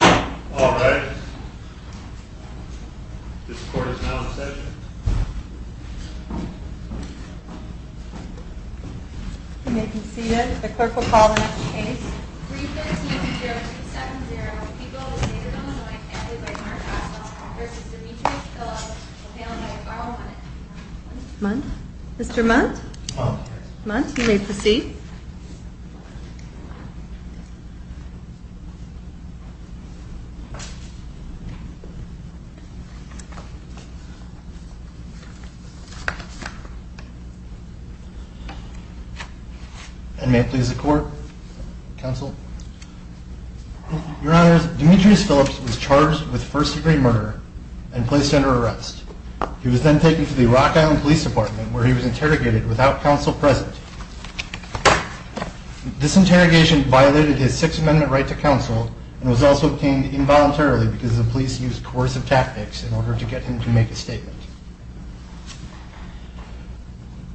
All rise. This court is now in session. You may be seated. The clerk will call the next case. 315-0370, Eagle, a native of Illinois, employed by Mark Haswell, v. Demetrius Phillips, a family of Garland. Mr. Munt? Munt, you may proceed. And may it please the court, counsel. Your Honors, Demetrius Phillips was charged with first degree murder and placed under arrest. He was then taken to the Rock Island Police Department where he was interrogated without counsel present. This interrogation violated his Sixth Amendment right to counsel and was also obtained involuntarily because the police used coercive tactics in order to get him to make a statement.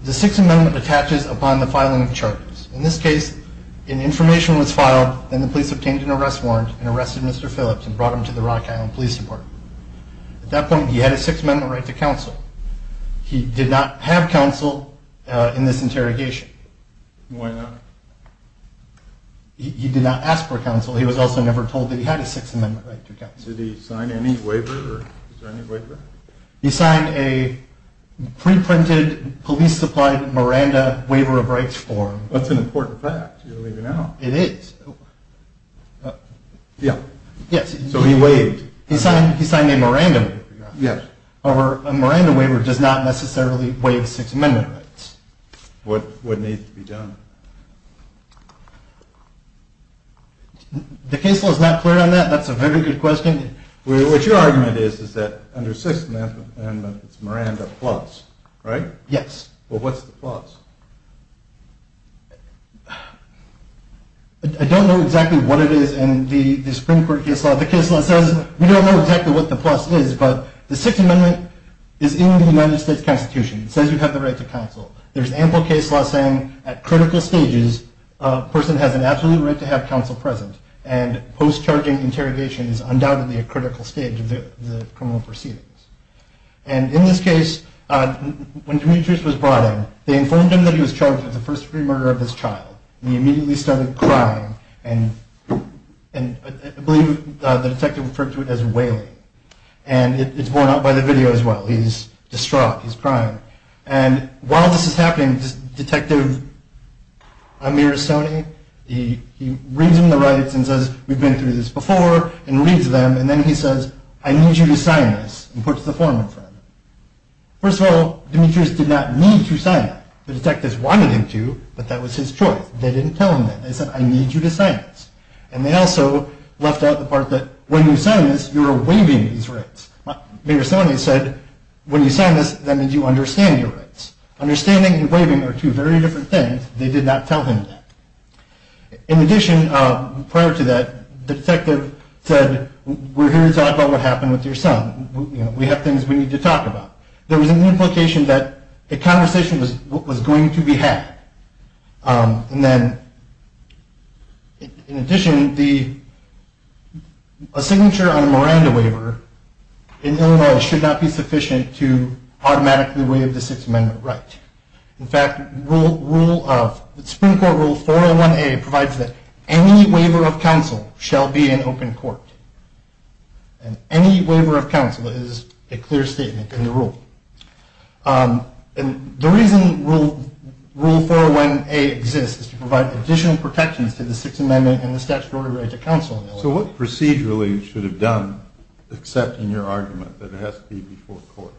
The Sixth Amendment attaches upon the filing of charges. In this case, an information was filed and the police obtained an arrest warrant and arrested Mr. Phillips and brought him to the Rock Island Police Department. At that point, he had a Sixth Amendment right to counsel. He did not have counsel in this interrogation. Why not? He did not ask for counsel. He was also never told that he had a Sixth Amendment right to counsel. Did he sign any waiver? He signed a pre-printed, police-supplied Miranda Waiver of Rights form. That's an important fact. You're leaving out. It is. So he waived. He signed a Miranda Waiver. Yes. A Miranda Waiver does not necessarily waive Sixth Amendment rights. What needs to be done? The case law is not clear on that. That's a very good question. What your argument is, is that under Sixth Amendment, it's Miranda plus, right? Yes. Well, what's the plus? I don't know exactly what it is in the Supreme Court case law. The case law says we don't know exactly what the plus is, but the Sixth Amendment is in the United States Constitution. It says you have the right to counsel. There's ample case law saying at critical stages, a person has an absolute right to have counsel present. And post-charging interrogation is undoubtedly a critical stage of the criminal proceedings. And in this case, when Demetrius was brought in, they informed him that he was charged with the first-degree murder of his child. And he immediately started crying. And I believe the detective referred to it as wailing. And it's borne out by the video as well. He's distraught. He's crying. And while this is happening, Detective Amir Soni, he reads him the rights and says, we've been through this before, and reads them, and then he says, I need you to sign this, and puts the form in front of him. First of all, Demetrius did not need to sign that. The detectives wanted him to, but that was his choice. They didn't tell him that. They said, I need you to sign this. And they also left out the part that when you sign this, you're waiving these rights. Amir Soni said, when you sign this, that means you understand your rights. Understanding and waiving are two very different things. They did not tell him that. In addition, prior to that, the detective said, we're here to talk about what happened with your son. We have things we need to talk about. There was an implication that a conversation was going to be had. And then, in addition, a signature on a Miranda waiver in Illinois should not be sufficient to automatically waive the Sixth Amendment right. In fact, the Supreme Court Rule 401A provides that any waiver of counsel shall be in open court. And any waiver of counsel is a clear statement in the rule. And the reason Rule 401A exists is to provide additional protections to the Sixth Amendment and the statutory right to counsel in Illinois. So what procedurally should have done, except in your argument, that it has to be before court?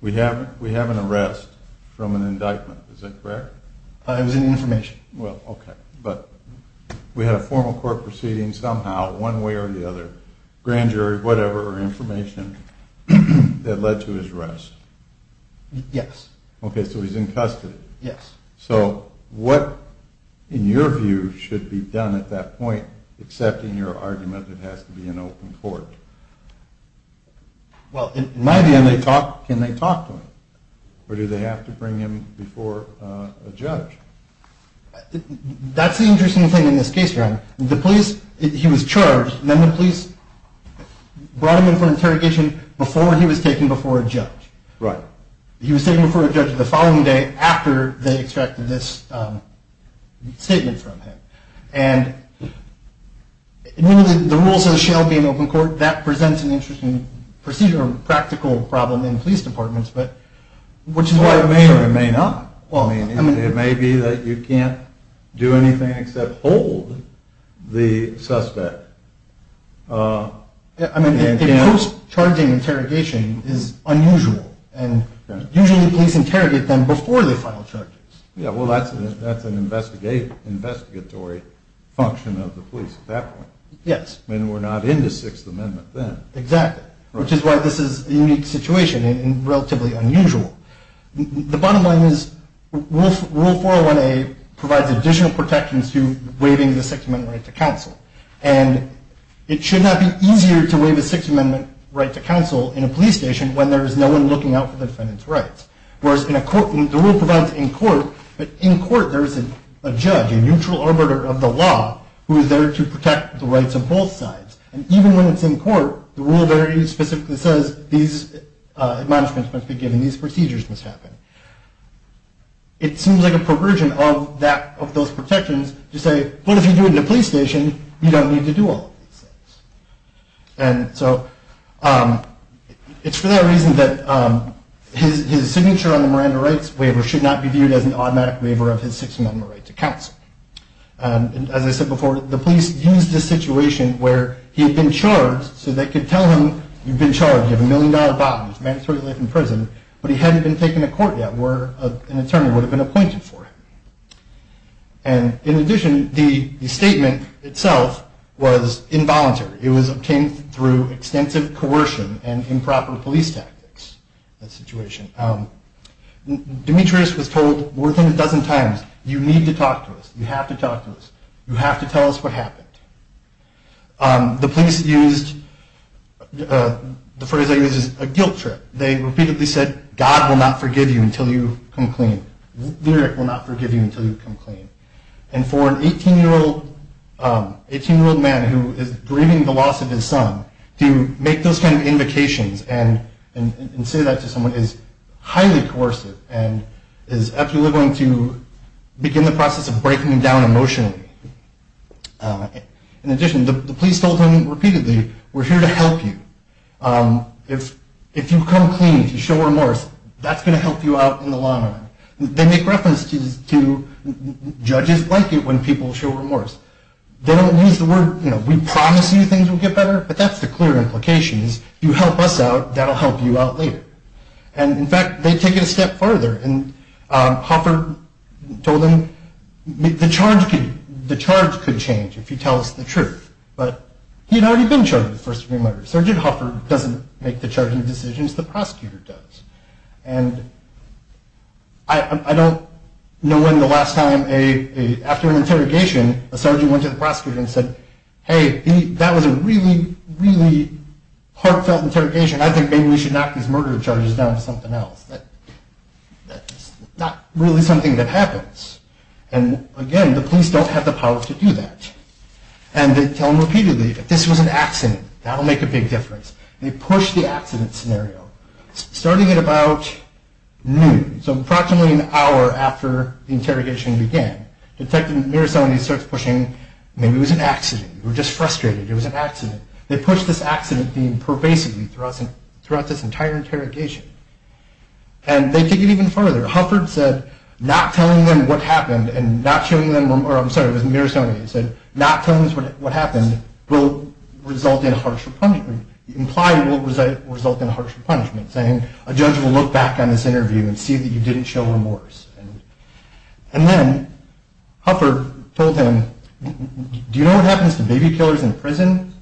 We have an arrest from an indictment, is that correct? It was an information. Well, okay. But we had a formal court proceeding somehow, one way or the other. Grand jury, whatever, information that led to his arrest. Yes. Okay, so he's in custody. Yes. So what, in your view, should be done at that point, except in your argument, it has to be in open court? Well, in my view, can they talk to him? Or do they have to bring him before a judge? That's the interesting thing in this case, Ron. The police, he was charged, then the police brought him in for interrogation before he was taken before a judge. Right. He was taken before a judge the following day after they extracted this statement from him. And the rules of the shell being open court, that presents an interesting procedural, practical problem in police departments. Which is why it may or may not. It may be that you can't do anything except hold the suspect. I mean, a post-charging interrogation is unusual, and usually the police interrogate them before they file charges. Yeah, well, that's an investigatory function of the police at that point. Yes. I mean, we're not into Sixth Amendment then. Exactly. Which is why this is a unique situation and relatively unusual. The bottom line is Rule 401A provides additional protections to waiving the Sixth Amendment right to counsel. And it should not be easier to waive a Sixth Amendment right to counsel in a police station when there is no one looking out for the defendant's rights. Whereas in a court, the rule provides in court, but in court there is a judge, a neutral arbiter of the law, who is there to protect the rights of both sides. And even when it's in court, the rule very specifically says these admonishments must be given. These procedures must happen. It seems like a perversion of those protections to say, what if you do it in a police station? You don't need to do all of these things. And so it's for that reason that his signature on the Miranda Rights Waiver should not be viewed as an automatic waiver of his Sixth Amendment right to counsel. And as I said before, the police used this situation where he had been charged so they could tell him, you've been charged, you have a million-dollar bond, mandatory life in prison, but he hadn't been taken to court yet where an attorney would have been appointed for him. And in addition, the statement itself was involuntary. It was obtained through extensive coercion and improper police tactics, that situation. Demetrius was told more than a dozen times, you need to talk to us, you have to talk to us, you have to tell us what happened. The police used, the phrase they used is a guilt trip. They repeatedly said, God will not forgive you until you come clean. Lyric will not forgive you until you come clean. And for an 18-year-old man who is grieving the loss of his son, to make those kind of invocations and say that to someone is highly coercive and is absolutely going to begin the process of breaking him down emotionally. In addition, the police told him repeatedly, we're here to help you. If you come clean, if you show remorse, that's going to help you out in the long run. They make reference to judges like it when people show remorse. They don't use the word, you know, we promise you things will get better, but that's the clear implication is, you help us out, that will help you out later. And in fact, they take it a step further and Hoffer told him, the charge could change if you tell us the truth. But he had already been charged with first-degree murder. Sergeant Hoffer doesn't make the charging decisions, the prosecutor does. And I don't know when the last time, after an interrogation, a sergeant went to the prosecutor and said, hey, that was a really, really heartfelt interrogation. I think maybe we should knock these murder charges down to something else. That's not really something that happens. And again, the police don't have the power to do that. And they tell them repeatedly, if this was an accident, that will make a big difference. They push the accident scenario. Starting at about noon, so approximately an hour after the interrogation began, Detective Mirosony starts pushing, maybe it was an accident, we're just frustrated, it was an accident. They push this accident theme pervasively throughout this entire interrogation. And they take it even further. Hoffer said, not telling them what happened and not showing them remorse, I'm sorry, it was Mirosony, he said, not telling us what happened will result in harsher punishment, implied will result in harsher punishment, saying a judge will look back on this interview and see that you didn't show remorse. And then Hoffer told him, do you know what happens to baby killers in prison?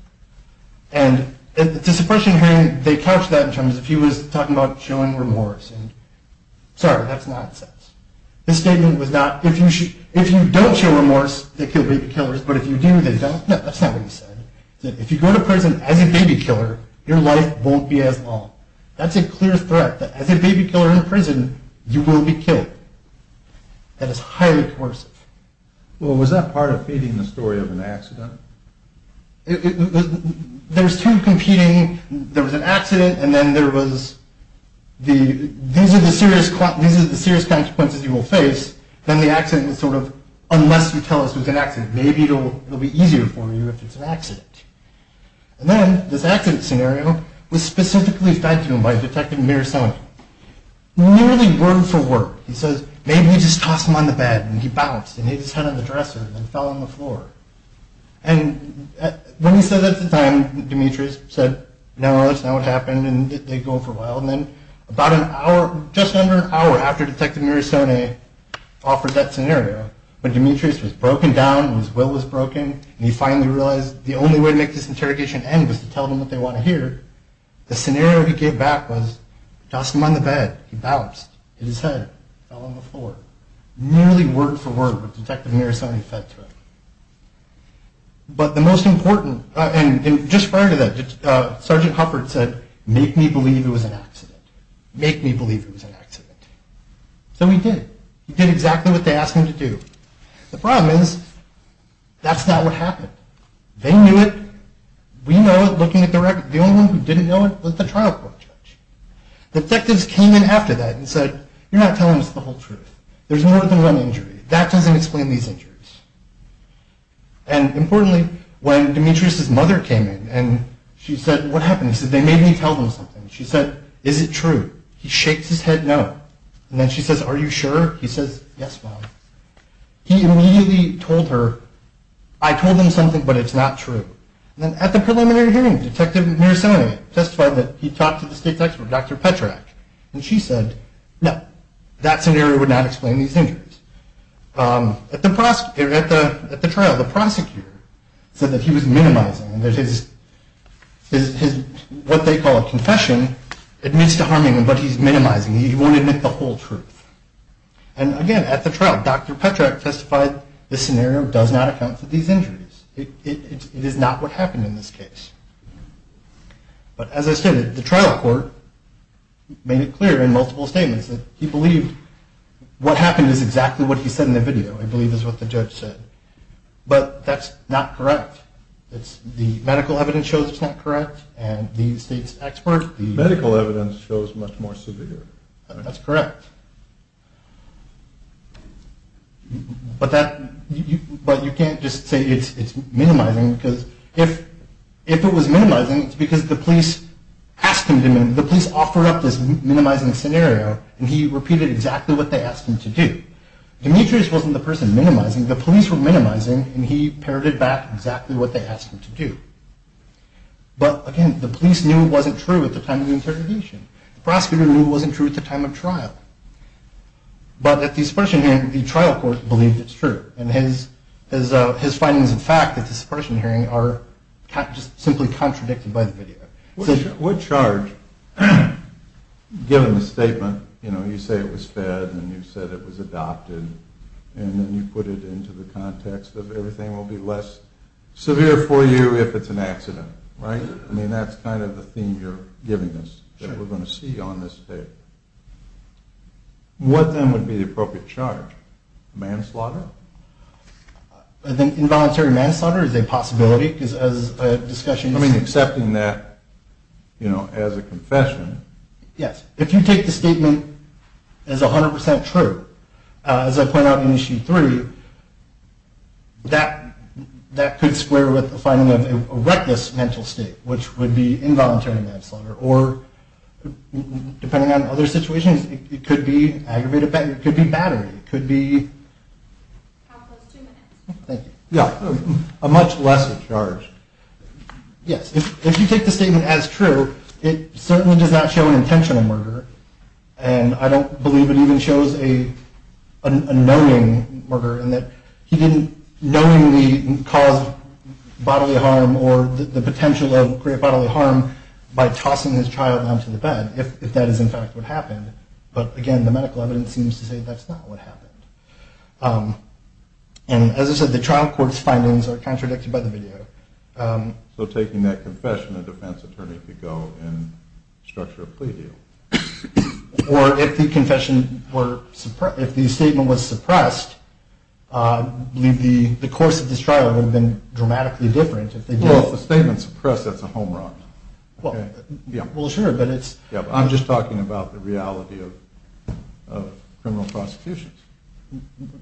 And it's a suppression hearing, they couched that in terms of he was talking about showing remorse. And sorry, that's nonsense. The statement was not, if you don't show remorse, they kill baby killers, but if you do, they don't. No, that's not what he said. He said, if you go to prison as a baby killer, your life won't be as long. That's a clear threat, that as a baby killer in prison, you will be killed. That is highly coercive. Well, was that part of feeding the story of an accident? There's two competing, there was an accident, and then there was the, these are the serious consequences you will face, then the accident is sort of, unless you tell us it was an accident, maybe it will be easier for you if it's an accident. And then this accident scenario was specifically fed to him by Detective Mirosony. Nearly word for word, he says, maybe we just tossed him on the bed, and he bounced and hit his head on the dresser and fell on the floor. And when he said that at the time, Demetrius said, no, that's not what happened, and they go for a while, and then about an hour, just under an hour after Detective Mirosony offered that scenario, when Demetrius was broken down, his will was broken, and he finally realized the only way to make this interrogation end was to tell them what they want to hear, the scenario he gave back was, tossed him on the bed, he bounced, hit his head, fell on the floor. Nearly word for word, what Detective Mirosony fed to him. But the most important, and just prior to that, Sergeant Hufford said, make me believe it was an accident, make me believe it was an accident. So he did, he did exactly what they asked him to do. The problem is, that's not what happened. They knew it, we know it looking at the record. The only one who didn't know it was the trial court judge. Detectives came in after that and said, you're not telling us the whole truth. There's more than one injury. That doesn't explain these injuries. And importantly, when Demetrius' mother came in, and she said, what happened? He said, they made me tell them something. She said, is it true? He shakes his head, no. And then she says, are you sure? He says, yes, Mom. He immediately told her, I told them something, but it's not true. And then at the preliminary hearing, Detective Miroselny testified that he talked to the state's expert, Dr. Petrak, and she said, no, that scenario would not explain these injuries. At the trial, the prosecutor said that he was minimizing, that his, what they call a confession, admits to harming him, but he's minimizing. He won't admit the whole truth. And again, at the trial, Dr. Petrak testified, this scenario does not account for these injuries. It is not what happened in this case. But as I stated, the trial court made it clear in multiple statements that he believed what happened is exactly what he said in the video. He believed it was what the judge said. But that's not correct. It's the medical evidence shows it's not correct, and the state's expert. The medical evidence shows much more severe. That's correct. But that, but you can't just say it's minimizing, because if it was minimizing, it's because the police asked him to minimize, the police offered up this minimizing scenario, and he repeated exactly what they asked him to do. Demetrius wasn't the person minimizing. The police were minimizing, and he parroted back exactly what they asked him to do. But again, the police knew it wasn't true at the time of the interrogation. The prosecutor knew it wasn't true at the time of trial. But at the supposition hearing, the trial court believed it's true, and his findings of fact at the supposition hearing are just simply contradicted by the video. What charge, given the statement, you know, you say it was fed, and you said it was adopted, and then you put it into the context of everything will be less severe for you if it's an accident, right? I mean, that's kind of the theme you're giving us that we're going to see on this case. What, then, would be the appropriate charge? Manslaughter? I think involuntary manslaughter is a possibility, because as a discussion... I mean, accepting that, you know, as a confession. Yes. If you take the statement as 100% true, as I point out in Issue 3, that could square with the finding of a reckless mental state, which would be involuntary manslaughter, or depending on other situations, it could be aggravated battery. It could be battery. It could be... How close? Two minutes. Thank you. Yeah. A much lesser charge. Yes. If you take the statement as true, it certainly does not show an intentional murder, and I don't believe it even shows a knowing murder, in that he didn't knowingly cause bodily harm or the potential of great bodily harm by tossing his child onto the bed, if that is, in fact, what happened. But, again, the medical evidence seems to say that's not what happened. And, as I said, the trial court's findings are contradicted by the video. So taking that confession, a defense attorney could go and structure a plea deal? Or if the confession were... if the statement was suppressed, I believe the course of this trial would have been dramatically different. Well, if the statement's suppressed, that's a home run. Well, sure, but it's... I'm just talking about the reality of criminal prosecutions.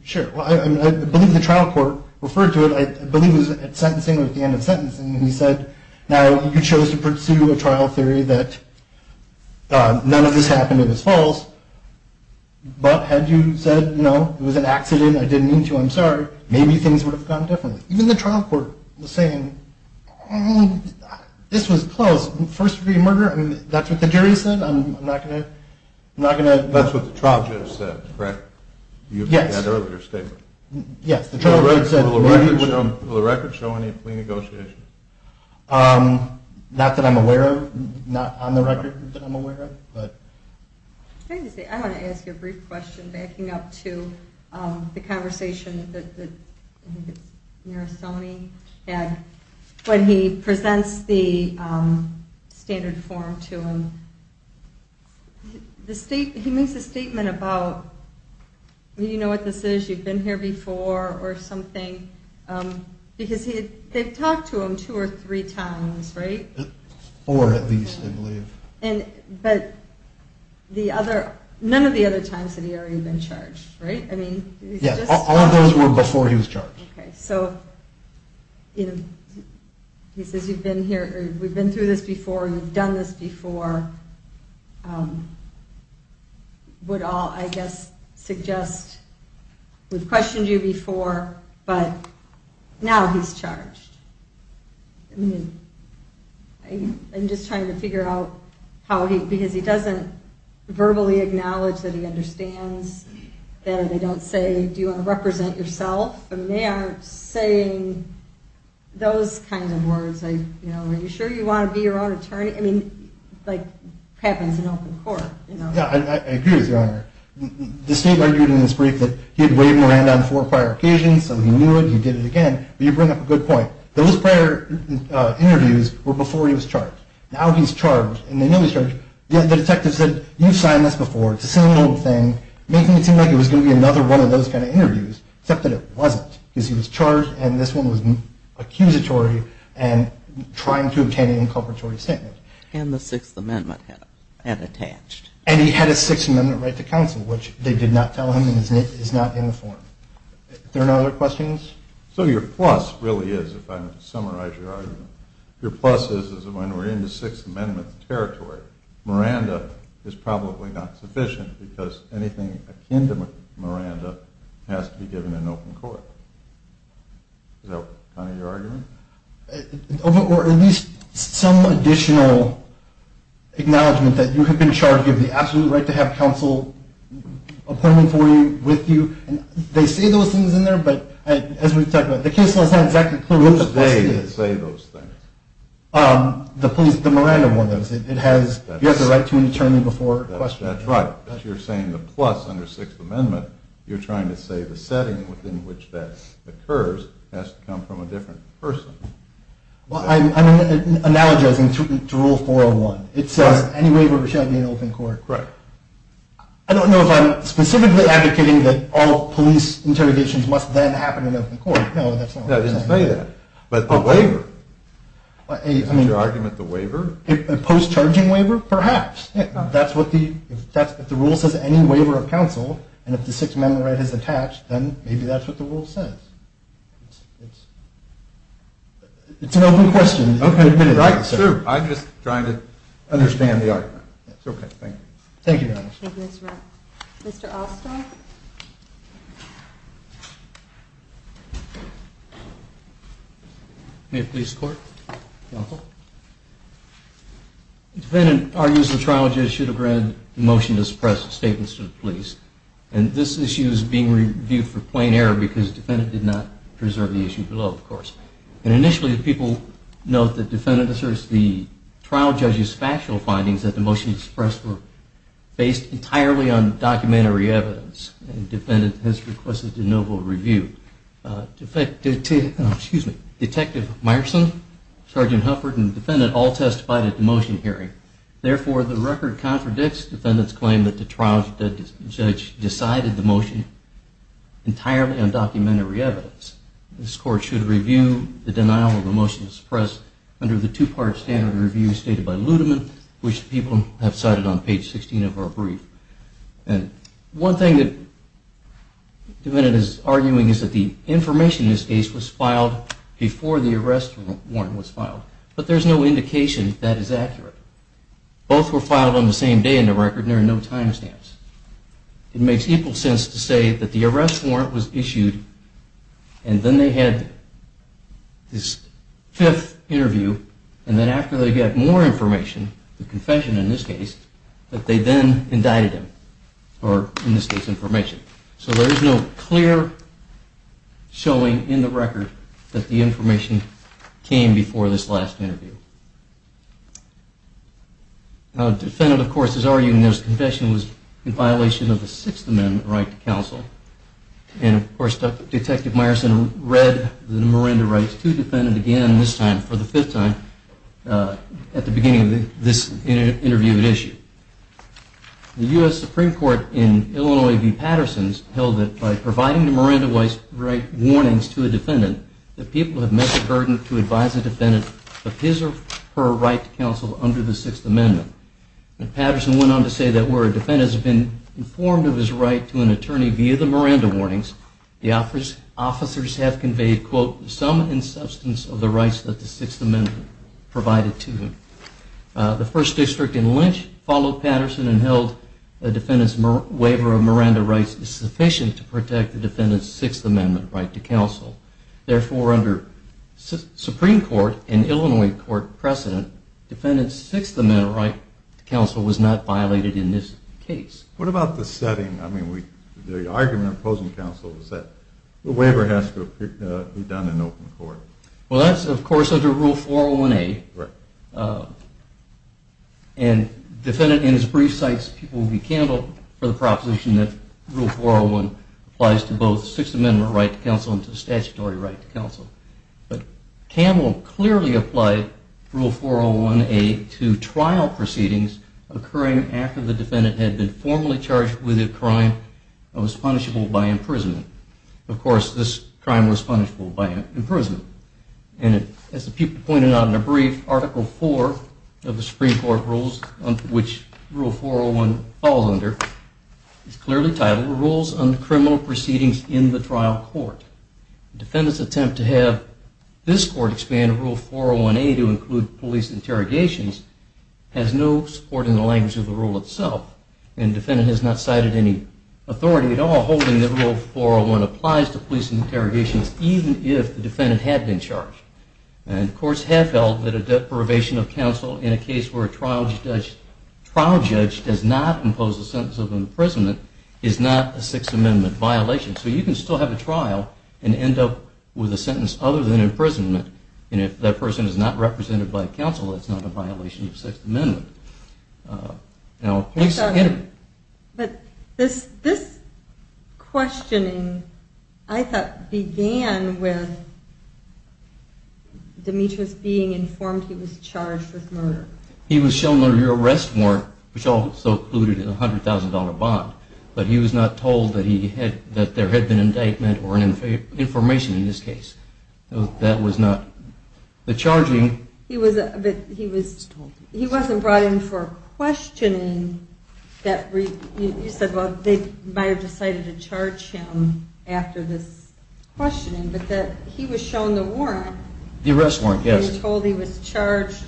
Sure. I believe the trial court referred to it, I believe it was at sentencing, at the end of sentencing, and he said, now you chose to pursue a trial theory that none of this happened, it was false, but had you said, no, it was an accident, I didn't mean to, I'm sorry, maybe things would have gone differently. Even the trial court was saying, this was close, first degree murder, that's what the jury said, I'm not going to... That's what the trial judge said, correct? Yes. You had an earlier statement. Yes. Will the record show any plea negotiations? Not that I'm aware of, not on the record that I'm aware of, but... I wanted to ask you a brief question, backing up to the conversation that I think it was Marisoni had when he presents the standard form to him. He makes a statement about, you know what this is, you've been here before, or something, because they've talked to him two or three times, right? Four at least, I believe. But none of the other times had he already been charged, right? Yes, all of those were before he was charged. Okay, so he says, we've been through this before, you've done this before, would all, I guess, suggest, we've questioned you before, but now he's charged. I mean, I'm just trying to figure out how he, because he doesn't verbally acknowledge that he understands that, or they don't say, do you want to represent yourself? I mean, they aren't saying those kinds of words, like, you know, are you sure you want to be your own attorney? I mean, like, it happens in open court, you know? Yeah, I agree with you, Your Honor. The state argued in this brief that he had waved Miranda on four prior occasions, so he knew it, he did it again, but you bring up a good point. Those prior interviews were before he was charged. Now he's charged, and they know he's charged, yet the detective said, you've signed this before, it's a single thing, making it seem like it was going to be another one of those kind of interviews, except that it wasn't, because he was charged, and this one was accusatory and trying to obtain an inculpatory statement. And the Sixth Amendment had attached. And he had a Sixth Amendment right to counsel, which they did not tell him, and it is not in the form. There are no other questions? So your plus really is, if I may summarize your argument, your plus is that when we're in the Sixth Amendment territory, Miranda is probably not sufficient because anything akin to Miranda has to be given in open court. Is that kind of your argument? Or at least some additional acknowledgement that you have been charged, you have the absolute right to have counsel appointment for you, with you. They say those things in there, but as we've talked about, the case has not exactly clear what the plus is. What does they say those things? The police, the Miranda one. It has, you have the right to an attorney before question. That's right. If you're saying the plus under Sixth Amendment, you're trying to say the setting in which that occurs has to come from a different person. Well, I'm analogizing to Rule 401. It says any waiver should be in open court. Correct. I don't know if I'm specifically advocating that all police interrogations must then happen in open court. No, that's not what I'm saying. I didn't say that. But a waiver. Is that your argument, the waiver? A post-charging waiver? Perhaps. That's what the, if the rule says any waiver of counsel, and if the Sixth Amendment right is attached, then maybe that's what the rule says. It's an open question. Okay, right. I'm just trying to understand the argument. It's okay, thank you. Thank you, Your Honor. Thank you, Mr. Brown. Mr. Oster? May it please the Court? Counsel? The defendant argues the trial judge should have granted the motion to suppress statements to the police. And this issue is being reviewed for plain error because the defendant did not preserve the issue below, of course. And initially, people note that the defendant asserts the trial judge's factual findings that the motion to suppress were based entirely on documentary evidence. And the defendant has requested de novo review. Detective Meyerson, Sergeant Hufford, and the defendant all testified at the motion hearing. Therefore, the record contradicts the defendant's claim that the trial judge decided the motion entirely on documentary evidence. This Court should review the denial of the motion to suppress under the two-part standard review stated by Ludeman, which people have cited on page 16 of our brief. One thing the defendant is arguing is that the information in this case was filed before the arrest warrant was filed. But there's no indication that is accurate. Both were filed on the same day in the record, and there are no timestamps. It makes equal sense to say that the arrest warrant was issued, and then they had this fifth interview, and then after they got more information, the confession in this case, that they then indicted him. Or, in this case, information. So there is no clear showing in the record that the information came before this last interview. Now, the defendant, of course, is arguing this confession was in violation of the Sixth Amendment right to counsel. And, of course, Detective Meyerson read the Miranda rights to the defendant again, this time for the fifth time, at the beginning of this interview issue. The U.S. Supreme Court in Illinois v. Patterson held that by providing the Miranda rights warnings to a defendant, the people have met the burden to advise a defendant of his or her right to counsel under the Sixth Amendment. And Patterson went on to say that where a defendant has been informed of his right to an attorney via the Miranda warnings, the officers have conveyed, quote, some and substance of the rights that the Sixth Amendment provided to him. The First District in Lynch followed Patterson and held the defendant's waiver of Miranda rights is sufficient to protect the defendant's Sixth Amendment right to counsel. Therefore, under Supreme Court and Illinois court precedent, defendant's Sixth Amendment right to counsel was not violated in this case. What about the setting? I mean, the argument opposing counsel is that the waiver has to be done in open court. Well, that's, of course, under Rule 401A. And the defendant, in his brief, cites Peabody Campbell for the proposition that Rule 401 applies to both Sixth Amendment right to counsel and to statutory right to counsel. But Campbell clearly applied Rule 401A to trial proceedings occurring after the defendant had been formally charged with a crime that was punishable by imprisonment. Of course, this crime was punishable by imprisonment. And as Peabody pointed out in a brief, Article IV of the Supreme Court rules, which Rule 401 falls under, is clearly titled Rules on Criminal Proceedings in the Trial Court. The defendant's attempt to have this court expand Rule 401A to include police interrogations has no support in the language of the rule itself. And the defendant has not cited any authority at all holding that Rule 401 applies to police interrogations even if the defendant had been charged. And courts have held that a deprivation of counsel in a case where a trial judge does not impose a sentence of imprisonment is not a Sixth Amendment violation. So you can still have a trial and end up with a sentence other than imprisonment. And if that person is not represented by counsel, it's not a violation of Sixth Amendment. But this questioning, I thought, began with Demetrius being informed he was charged with murder. He was shown one of your arrest warrants, which also included a $100,000 bond, but he was not told that there had been an indictment or information in this case. He wasn't brought in for a questioning. You said they might have decided to charge him after this questioning, but he was shown the warrant. The arrest warrant, yes. And told he was charged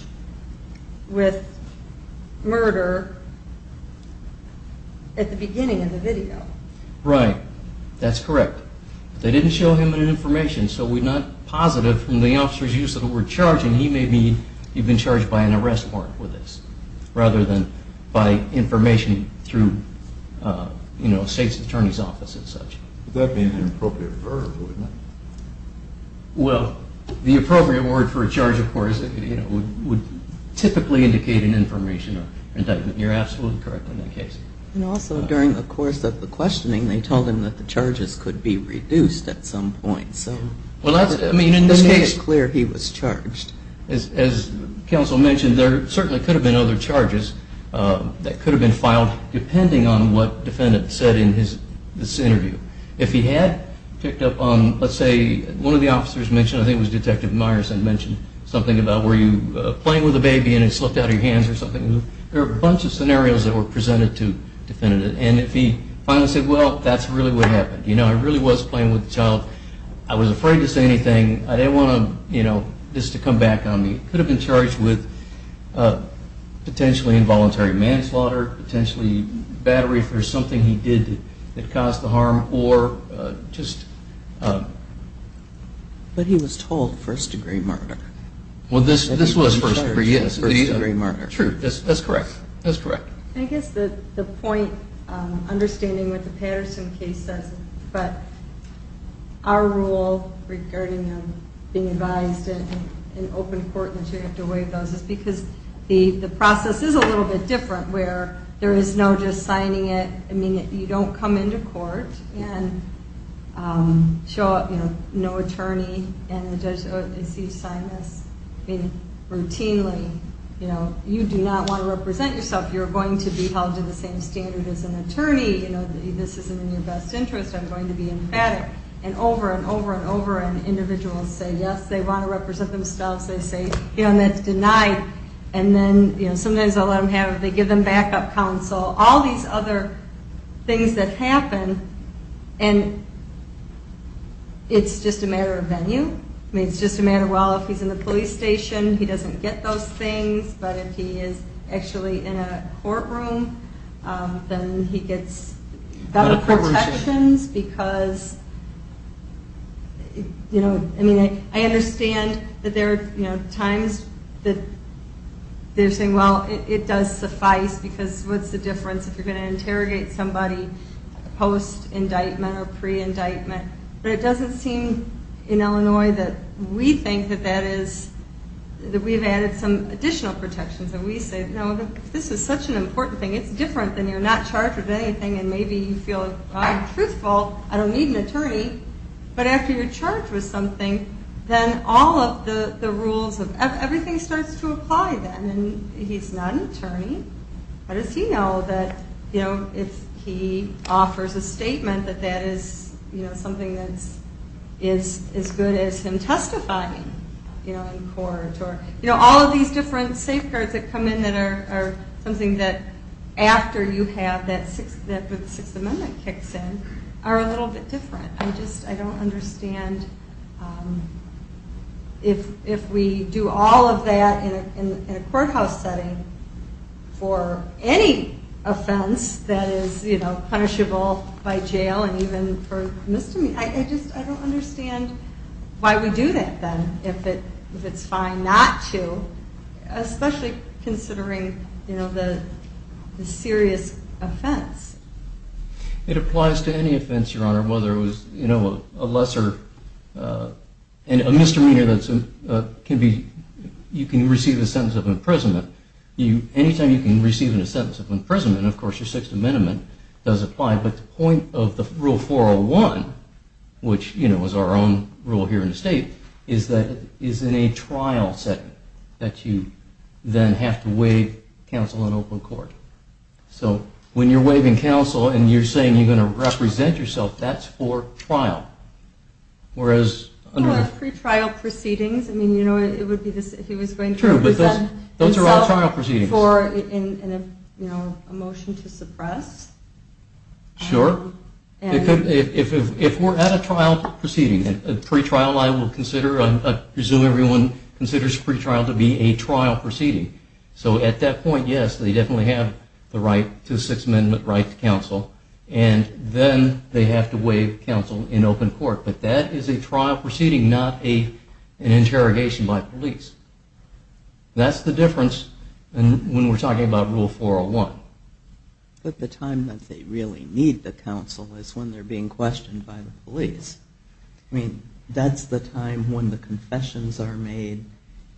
with murder at the beginning of the video. Right. That's correct. But they didn't show him any information, so we're not positive from the officer's use of the word charge. And he may have been charged by an arrest warrant for this rather than by information through, you know, the state's attorney's office and such. Would that be an inappropriate verb? Well, the appropriate word for a charge, of course, would typically indicate an information or indictment. You're absolutely correct on that case. And also, during the course of the questioning, they told him that the charges could be reduced at some point. Well, that's, I mean, in this case. To make it clear he was charged. As counsel mentioned, there certainly could have been other charges that could have been filed depending on what the defendant said in this interview. If he had picked up on, let's say, one of the officers mentioned, I think it was Detective Meyerson mentioned something about were you playing with a baby and it slipped out of your hands or something. There are a bunch of scenarios that were presented to the defendant. And if he finally said, well, that's really what happened. You know, I really was playing with the child. I was afraid to say anything. I didn't want to, you know, this to come back on me. He could have been charged with potentially involuntary manslaughter, potentially battery for something he did that caused the harm, or just. But he was told first degree murder. Well, this was first degree, yes. First degree murder. True. That's correct. That's correct. I guess the point, understanding what the Patterson case says, but our rule regarding being advised in open court that you have to waive those is because the process is a little bit different where there is no just signing it. I mean, you don't come into court and show up, you know, no attorney and the judge, oh, is he signing this? I mean, routinely, you know, you do not want to represent yourself. You're going to be held to the same standard as an attorney. You know, this isn't in your best interest. I'm going to be emphatic. And over and over and over and individuals say yes, they want to represent themselves. They say, you know, and that's denied. And then, you know, sometimes I'll let them have, they give them backup counsel. All these other things that happen and it's just a matter of venue. I mean, it's just a matter of, well, if he's in the police station, he doesn't get those things. But if he is actually in a courtroom, then he gets better protections because, you know, I mean, I understand that there are, you know, times that they're saying, well, it does suffice because what's the difference if you're going to interrogate somebody post-indictment or pre-indictment? But it doesn't seem in Illinois that we think that that is, that we've added some additional protections. And we say, no, this is such an important thing. It's different than you're not charged with anything and maybe you feel, well, I'm truthful. I don't need an attorney. But after you're charged with something, then all of the rules, everything starts to apply then. He's not an attorney. How does he know that, you know, if he offers a statement that that is, you know, something that is as good as him testifying, you know, in court? Or, you know, all of these different safeguards that come in that are something that after you have that Sixth Amendment kicks in are a little bit different. I just, I don't understand if we do all of that in a courthouse setting for any offense that is, you know, punishable by jail and even for misdemeanor. I just, I don't understand why we do that then if it's fine not to, especially considering, you know, the serious offense. It applies to any offense, Your Honor, whether it was, you know, a lesser, a misdemeanor that can be, you can receive a sentence of imprisonment. Anytime you can receive a sentence of imprisonment, of course, your Sixth Amendment does apply. But the point of the Rule 401, which, you know, is our own rule here in the state, is that it is in a trial setting that you then have to waive counsel in open court. So when you're waiving counsel and you're saying you're going to represent yourself, that's for trial. Whereas under... Well, pre-trial proceedings, I mean, you know, it would be, he was going to represent himself... True, but those are all trial proceedings. For, you know, a motion to suppress. Sure. And... If we're at a trial proceeding, a pre-trial I will consider, I presume everyone considers pre-trial to be a trial proceeding. So at that point, yes, they definitely have the right to Sixth Amendment right to counsel. And then they have to waive counsel in open court. But that is a trial proceeding, not an interrogation by police. That's the difference when we're talking about Rule 401. But the time that they really need the counsel is when they're being questioned by the police. I mean, that's the time when the confessions are made.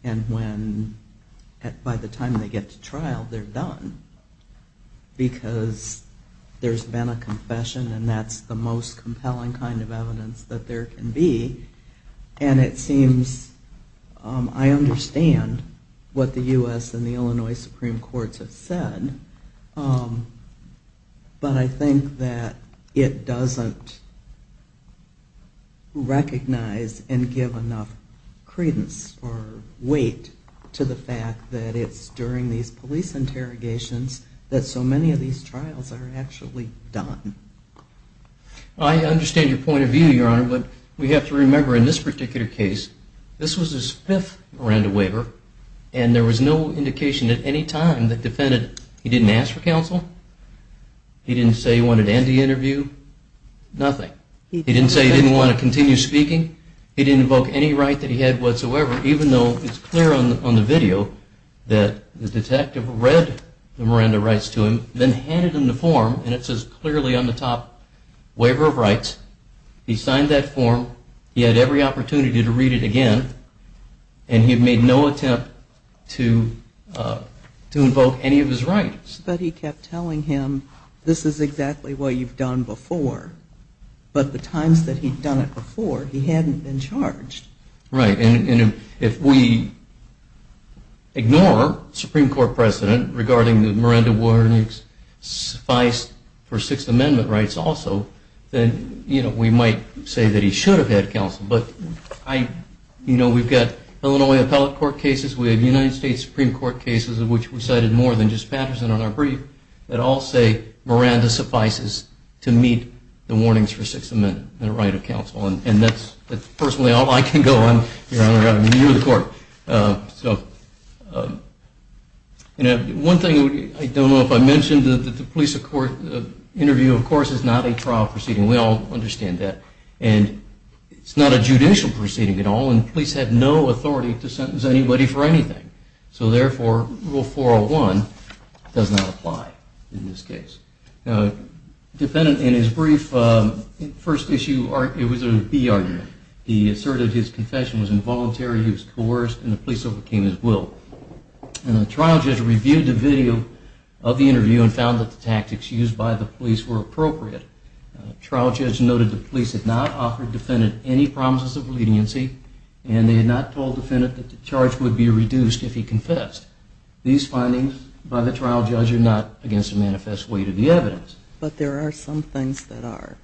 And when, by the time they get to trial, they're done. Because there's been a confession and that's the most compelling kind of evidence that there can be. And it seems, I understand what the U.S. and the Illinois Supreme Courts have said. But I think that it doesn't recognize and give enough credence or weight to the fact that it's during these police interrogations that so many of these trials are actually done. I understand your point of view, Your Honor. But we have to remember in this particular case, this was his fifth Miranda waiver. And there was no indication at any time that defended it. He didn't ask for counsel. He didn't say he wanted to end the interview. Nothing. He didn't say he didn't want to continue speaking. He didn't invoke any right that he had whatsoever, even though it's clear on the video that the detective read the Miranda rights to him, then handed him the form, and it says clearly on the top, waiver of rights. He signed that form. He had every opportunity to read it again. And he had made no attempt to invoke any of his rights. But he kept telling him, this is exactly what you've done before. But the times that he'd done it before, he hadn't been charged. Right. And if we ignore Supreme Court precedent regarding the Miranda warnings, suffice for Sixth Amendment rights also, then we might say that he should have had counsel. But we've got Illinois appellate court cases. We have United States Supreme Court cases, of which we cited more than just Patterson on our brief, that all say Miranda suffices to meet the warnings for Sixth Amendment, the right of counsel. And that's personally all I can go on, Your Honor. I'm new to the court. So one thing I don't know if I mentioned, the police interview, of course, is not a trial proceeding. We all understand that. And it's not a judicial proceeding at all. And the police had no authority to sentence anybody for anything. So therefore, Rule 401 does not apply in this case. Now, the defendant, in his brief, first issue, it was a B argument. He asserted his confession was involuntary, he was coerced, and the police overcame his will. And the trial judge reviewed the video of the interview and found that the tactics used by the police were appropriate. Trial judge noted the police had not offered defendant any promises of leniency, and they had not told defendant that the charge would be reduced if he confessed. These findings by the trial judge are not against the manifest weight of the evidence. But there are some things that are.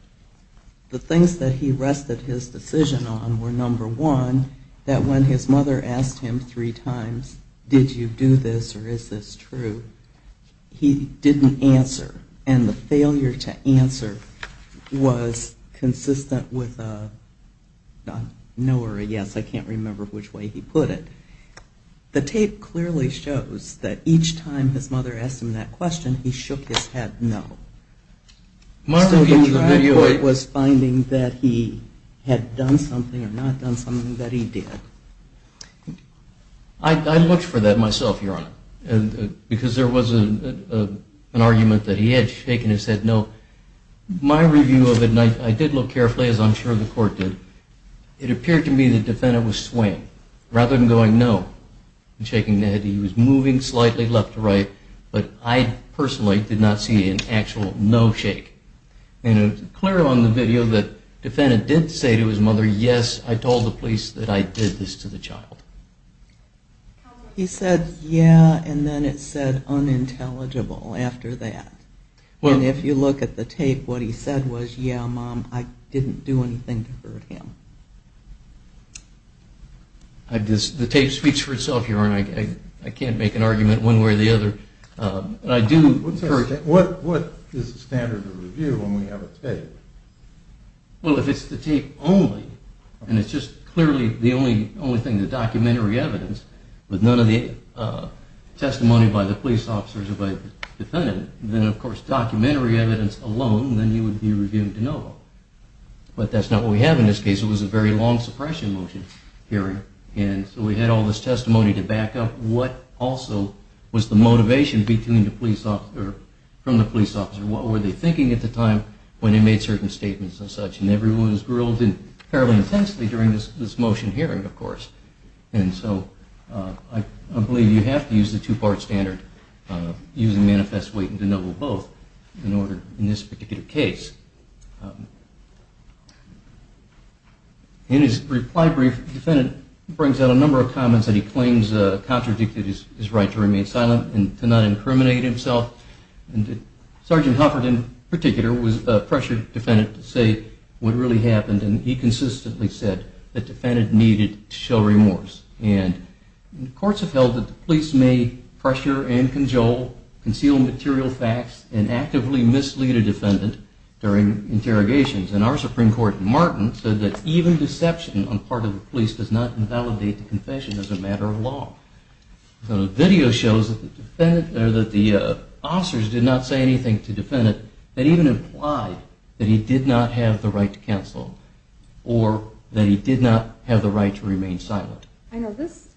The things that he rested his decision on were, number one, that when his mother asked him three times, did you do this or is this true, he didn't answer. And the failure to answer was consistent with a no or a yes. I can't remember which way he put it. The tape clearly shows that each time his mother asked him that question, he shook his head no. So the trial judge was finding that he had done something or not done something that he did. I looked for that myself, Your Honor, because there was an argument that he had shaken his head no. My review of it, and I did look carefully, as I'm sure the court did, it appeared to me that defendant was swaying, rather than going no and shaking his head. He was moving slightly left to right, but I personally did not see an actual no shake. And it's clear on the video that defendant did say to his mother, yes, I told the police that I did this to the child. He said, yeah, and then it said unintelligible after that. And if you look at the tape, what he said was, yeah, Mom, I didn't do anything to hurt him. The tape speaks for itself, Your Honor. I can't make an argument one way or the other. What is the standard of review when we have a tape? Well, if it's the tape only, and it's just clearly the only thing, the documentary evidence, with none of the testimony by the police officers or by the defendant, then of course documentary evidence alone, then you would be reviewing de novo. But that's not what we have in this case. It was a very long suppression motion hearing, and so we had all this testimony to back up what also was the motivation from the police officer. What were they thinking at the time when they made certain statements and such? And everyone was grilled fairly intensely during this motion hearing, of course. And so I believe you have to use the two-part standard of using manifest weight and de novo both in this particular case. In his reply brief, the defendant brings out a number of comments that he claims contradicted his right to remain silent and to not incriminate himself. And Sergeant Hufford, in particular, was a pressured defendant to say what really happened, and he consistently said the defendant needed to show remorse. And courts have held that the police may pressure and conjole, conceal material facts, and actively mislead a defendant during interrogations. And our Supreme Court, Martin, said that even deception on part of the police does not invalidate the confession as a matter of law. So the video shows that the officers did not say anything to the defendant that even implied that he did not have the right to counsel or that he did not have the right to remain silent. I know this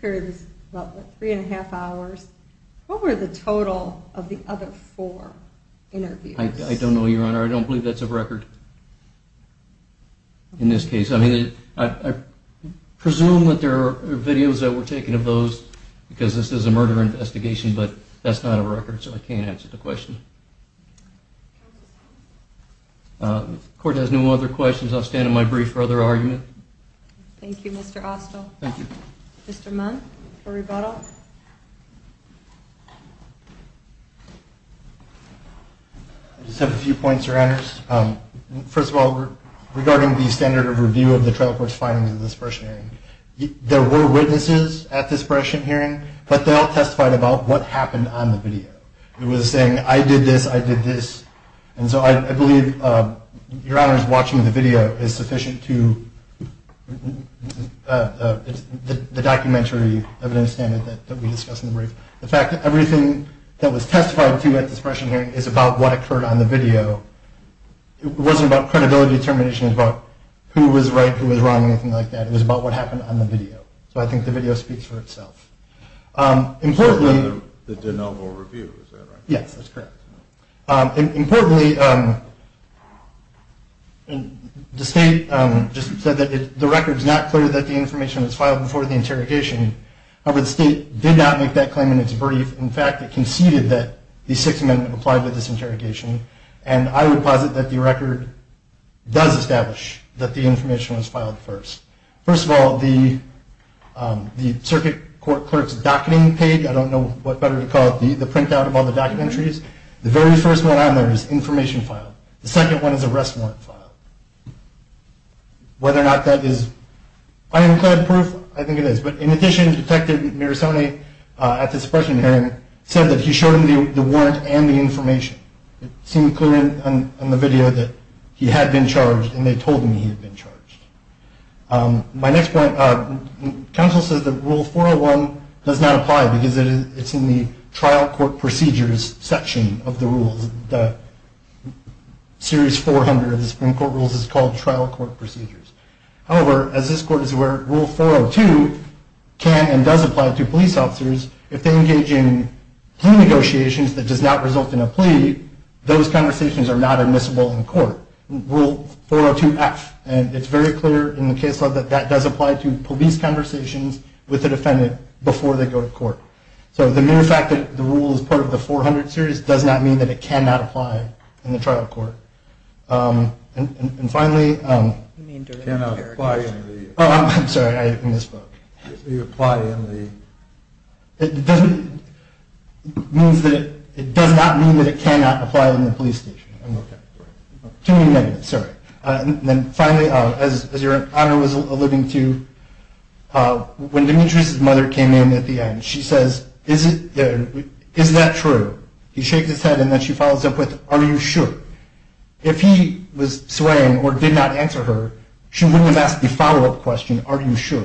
period is about three and a half hours. What were the total of the other four interviews? I don't know, Your Honor. I don't believe that's a record in this case. I presume that there are videos that were taken of those because this is a murder investigation, but that's not a record, so I can't answer the question. The court has no other questions. I'll stand on my brief for other argument. Thank you, Mr. Austell. Thank you. Mr. Munn for rebuttal. I just have a few points, Your Honors. First of all, regarding the standard of review of the trial court's findings in this first hearing, there were witnesses at this first hearing, but they all testified about what happened on the video. It was saying, I did this, I did this. And so I believe, Your Honors, watching the video is sufficient to the documentary evidence standard that we discussed in the brief. The fact that everything that was testified to at this first hearing is about what occurred on the video. It wasn't about credibility determination, it was about who was right, who was wrong, anything like that. It was about what happened on the video. So I think the video speaks for itself. The de novo review, is that right? Yes, that's correct. Importantly, the state just said that the record is not clear that the information was filed before the interrogation. However, the state did not make that claim in its brief. In fact, it conceded that the Sixth Amendment applied with this interrogation. And I would posit that the record does establish that the information was filed first. First of all, the circuit court clerk's docketing page, I don't know what better to call it, the printout of all the documentaries, the very first one on there is information filed. The second one is arrest warrant filed. Whether or not that is ironclad proof, I think it is. But in addition, Detective Mirasone at this first hearing said that he showed him the warrant and the information. It seemed clear on the video that he had been charged and they told him he had been charged. My next point, counsel says that Rule 401 does not apply because it's in the trial court procedures section of the rules. The Series 400 of the Supreme Court rules is called trial court procedures. However, as this court is aware, Rule 402 can and does apply to police officers if they engage in plea negotiations that does not result in a plea, those conversations are not admissible in court. Rule 402F, and it's very clear in the case law that that does apply to police conversations with the defendant before they go to court. So the mere fact that the rule is part of the 400 series does not mean that it cannot apply in the trial court. And finally, it does not mean that it cannot apply in the police station. And finally, as your Honor was alluding to, when Demetrius' mother came in at the end, she says, is that true? He shakes his head and then she follows up with, are you sure? If he was swaying or did not answer her, she wouldn't have asked the follow-up question, are you sure?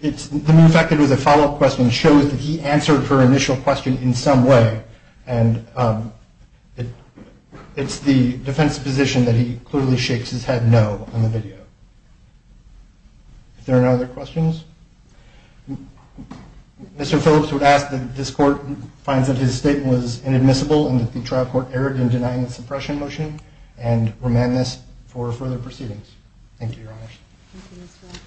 The mere fact that it was a follow-up question shows that he answered her initial question in some way and it's the defense position that he clearly shakes his head no in the video. If there are no other questions, Mr. Phillips would ask that this court find that his statement was inadmissible and that the trial court erred in denying the suppression motion and remand this for further proceedings. Thank you, Your Honors. Thank you, Mr. Roth.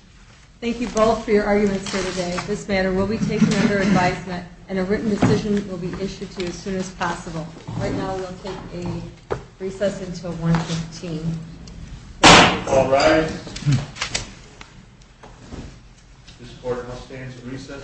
Thank you both for your arguments here today. This matter will be taken under advisement and a written decision will be issued to you as soon as possible. Right now, we'll take a recess until 115. All rise. This court shall stand to recess.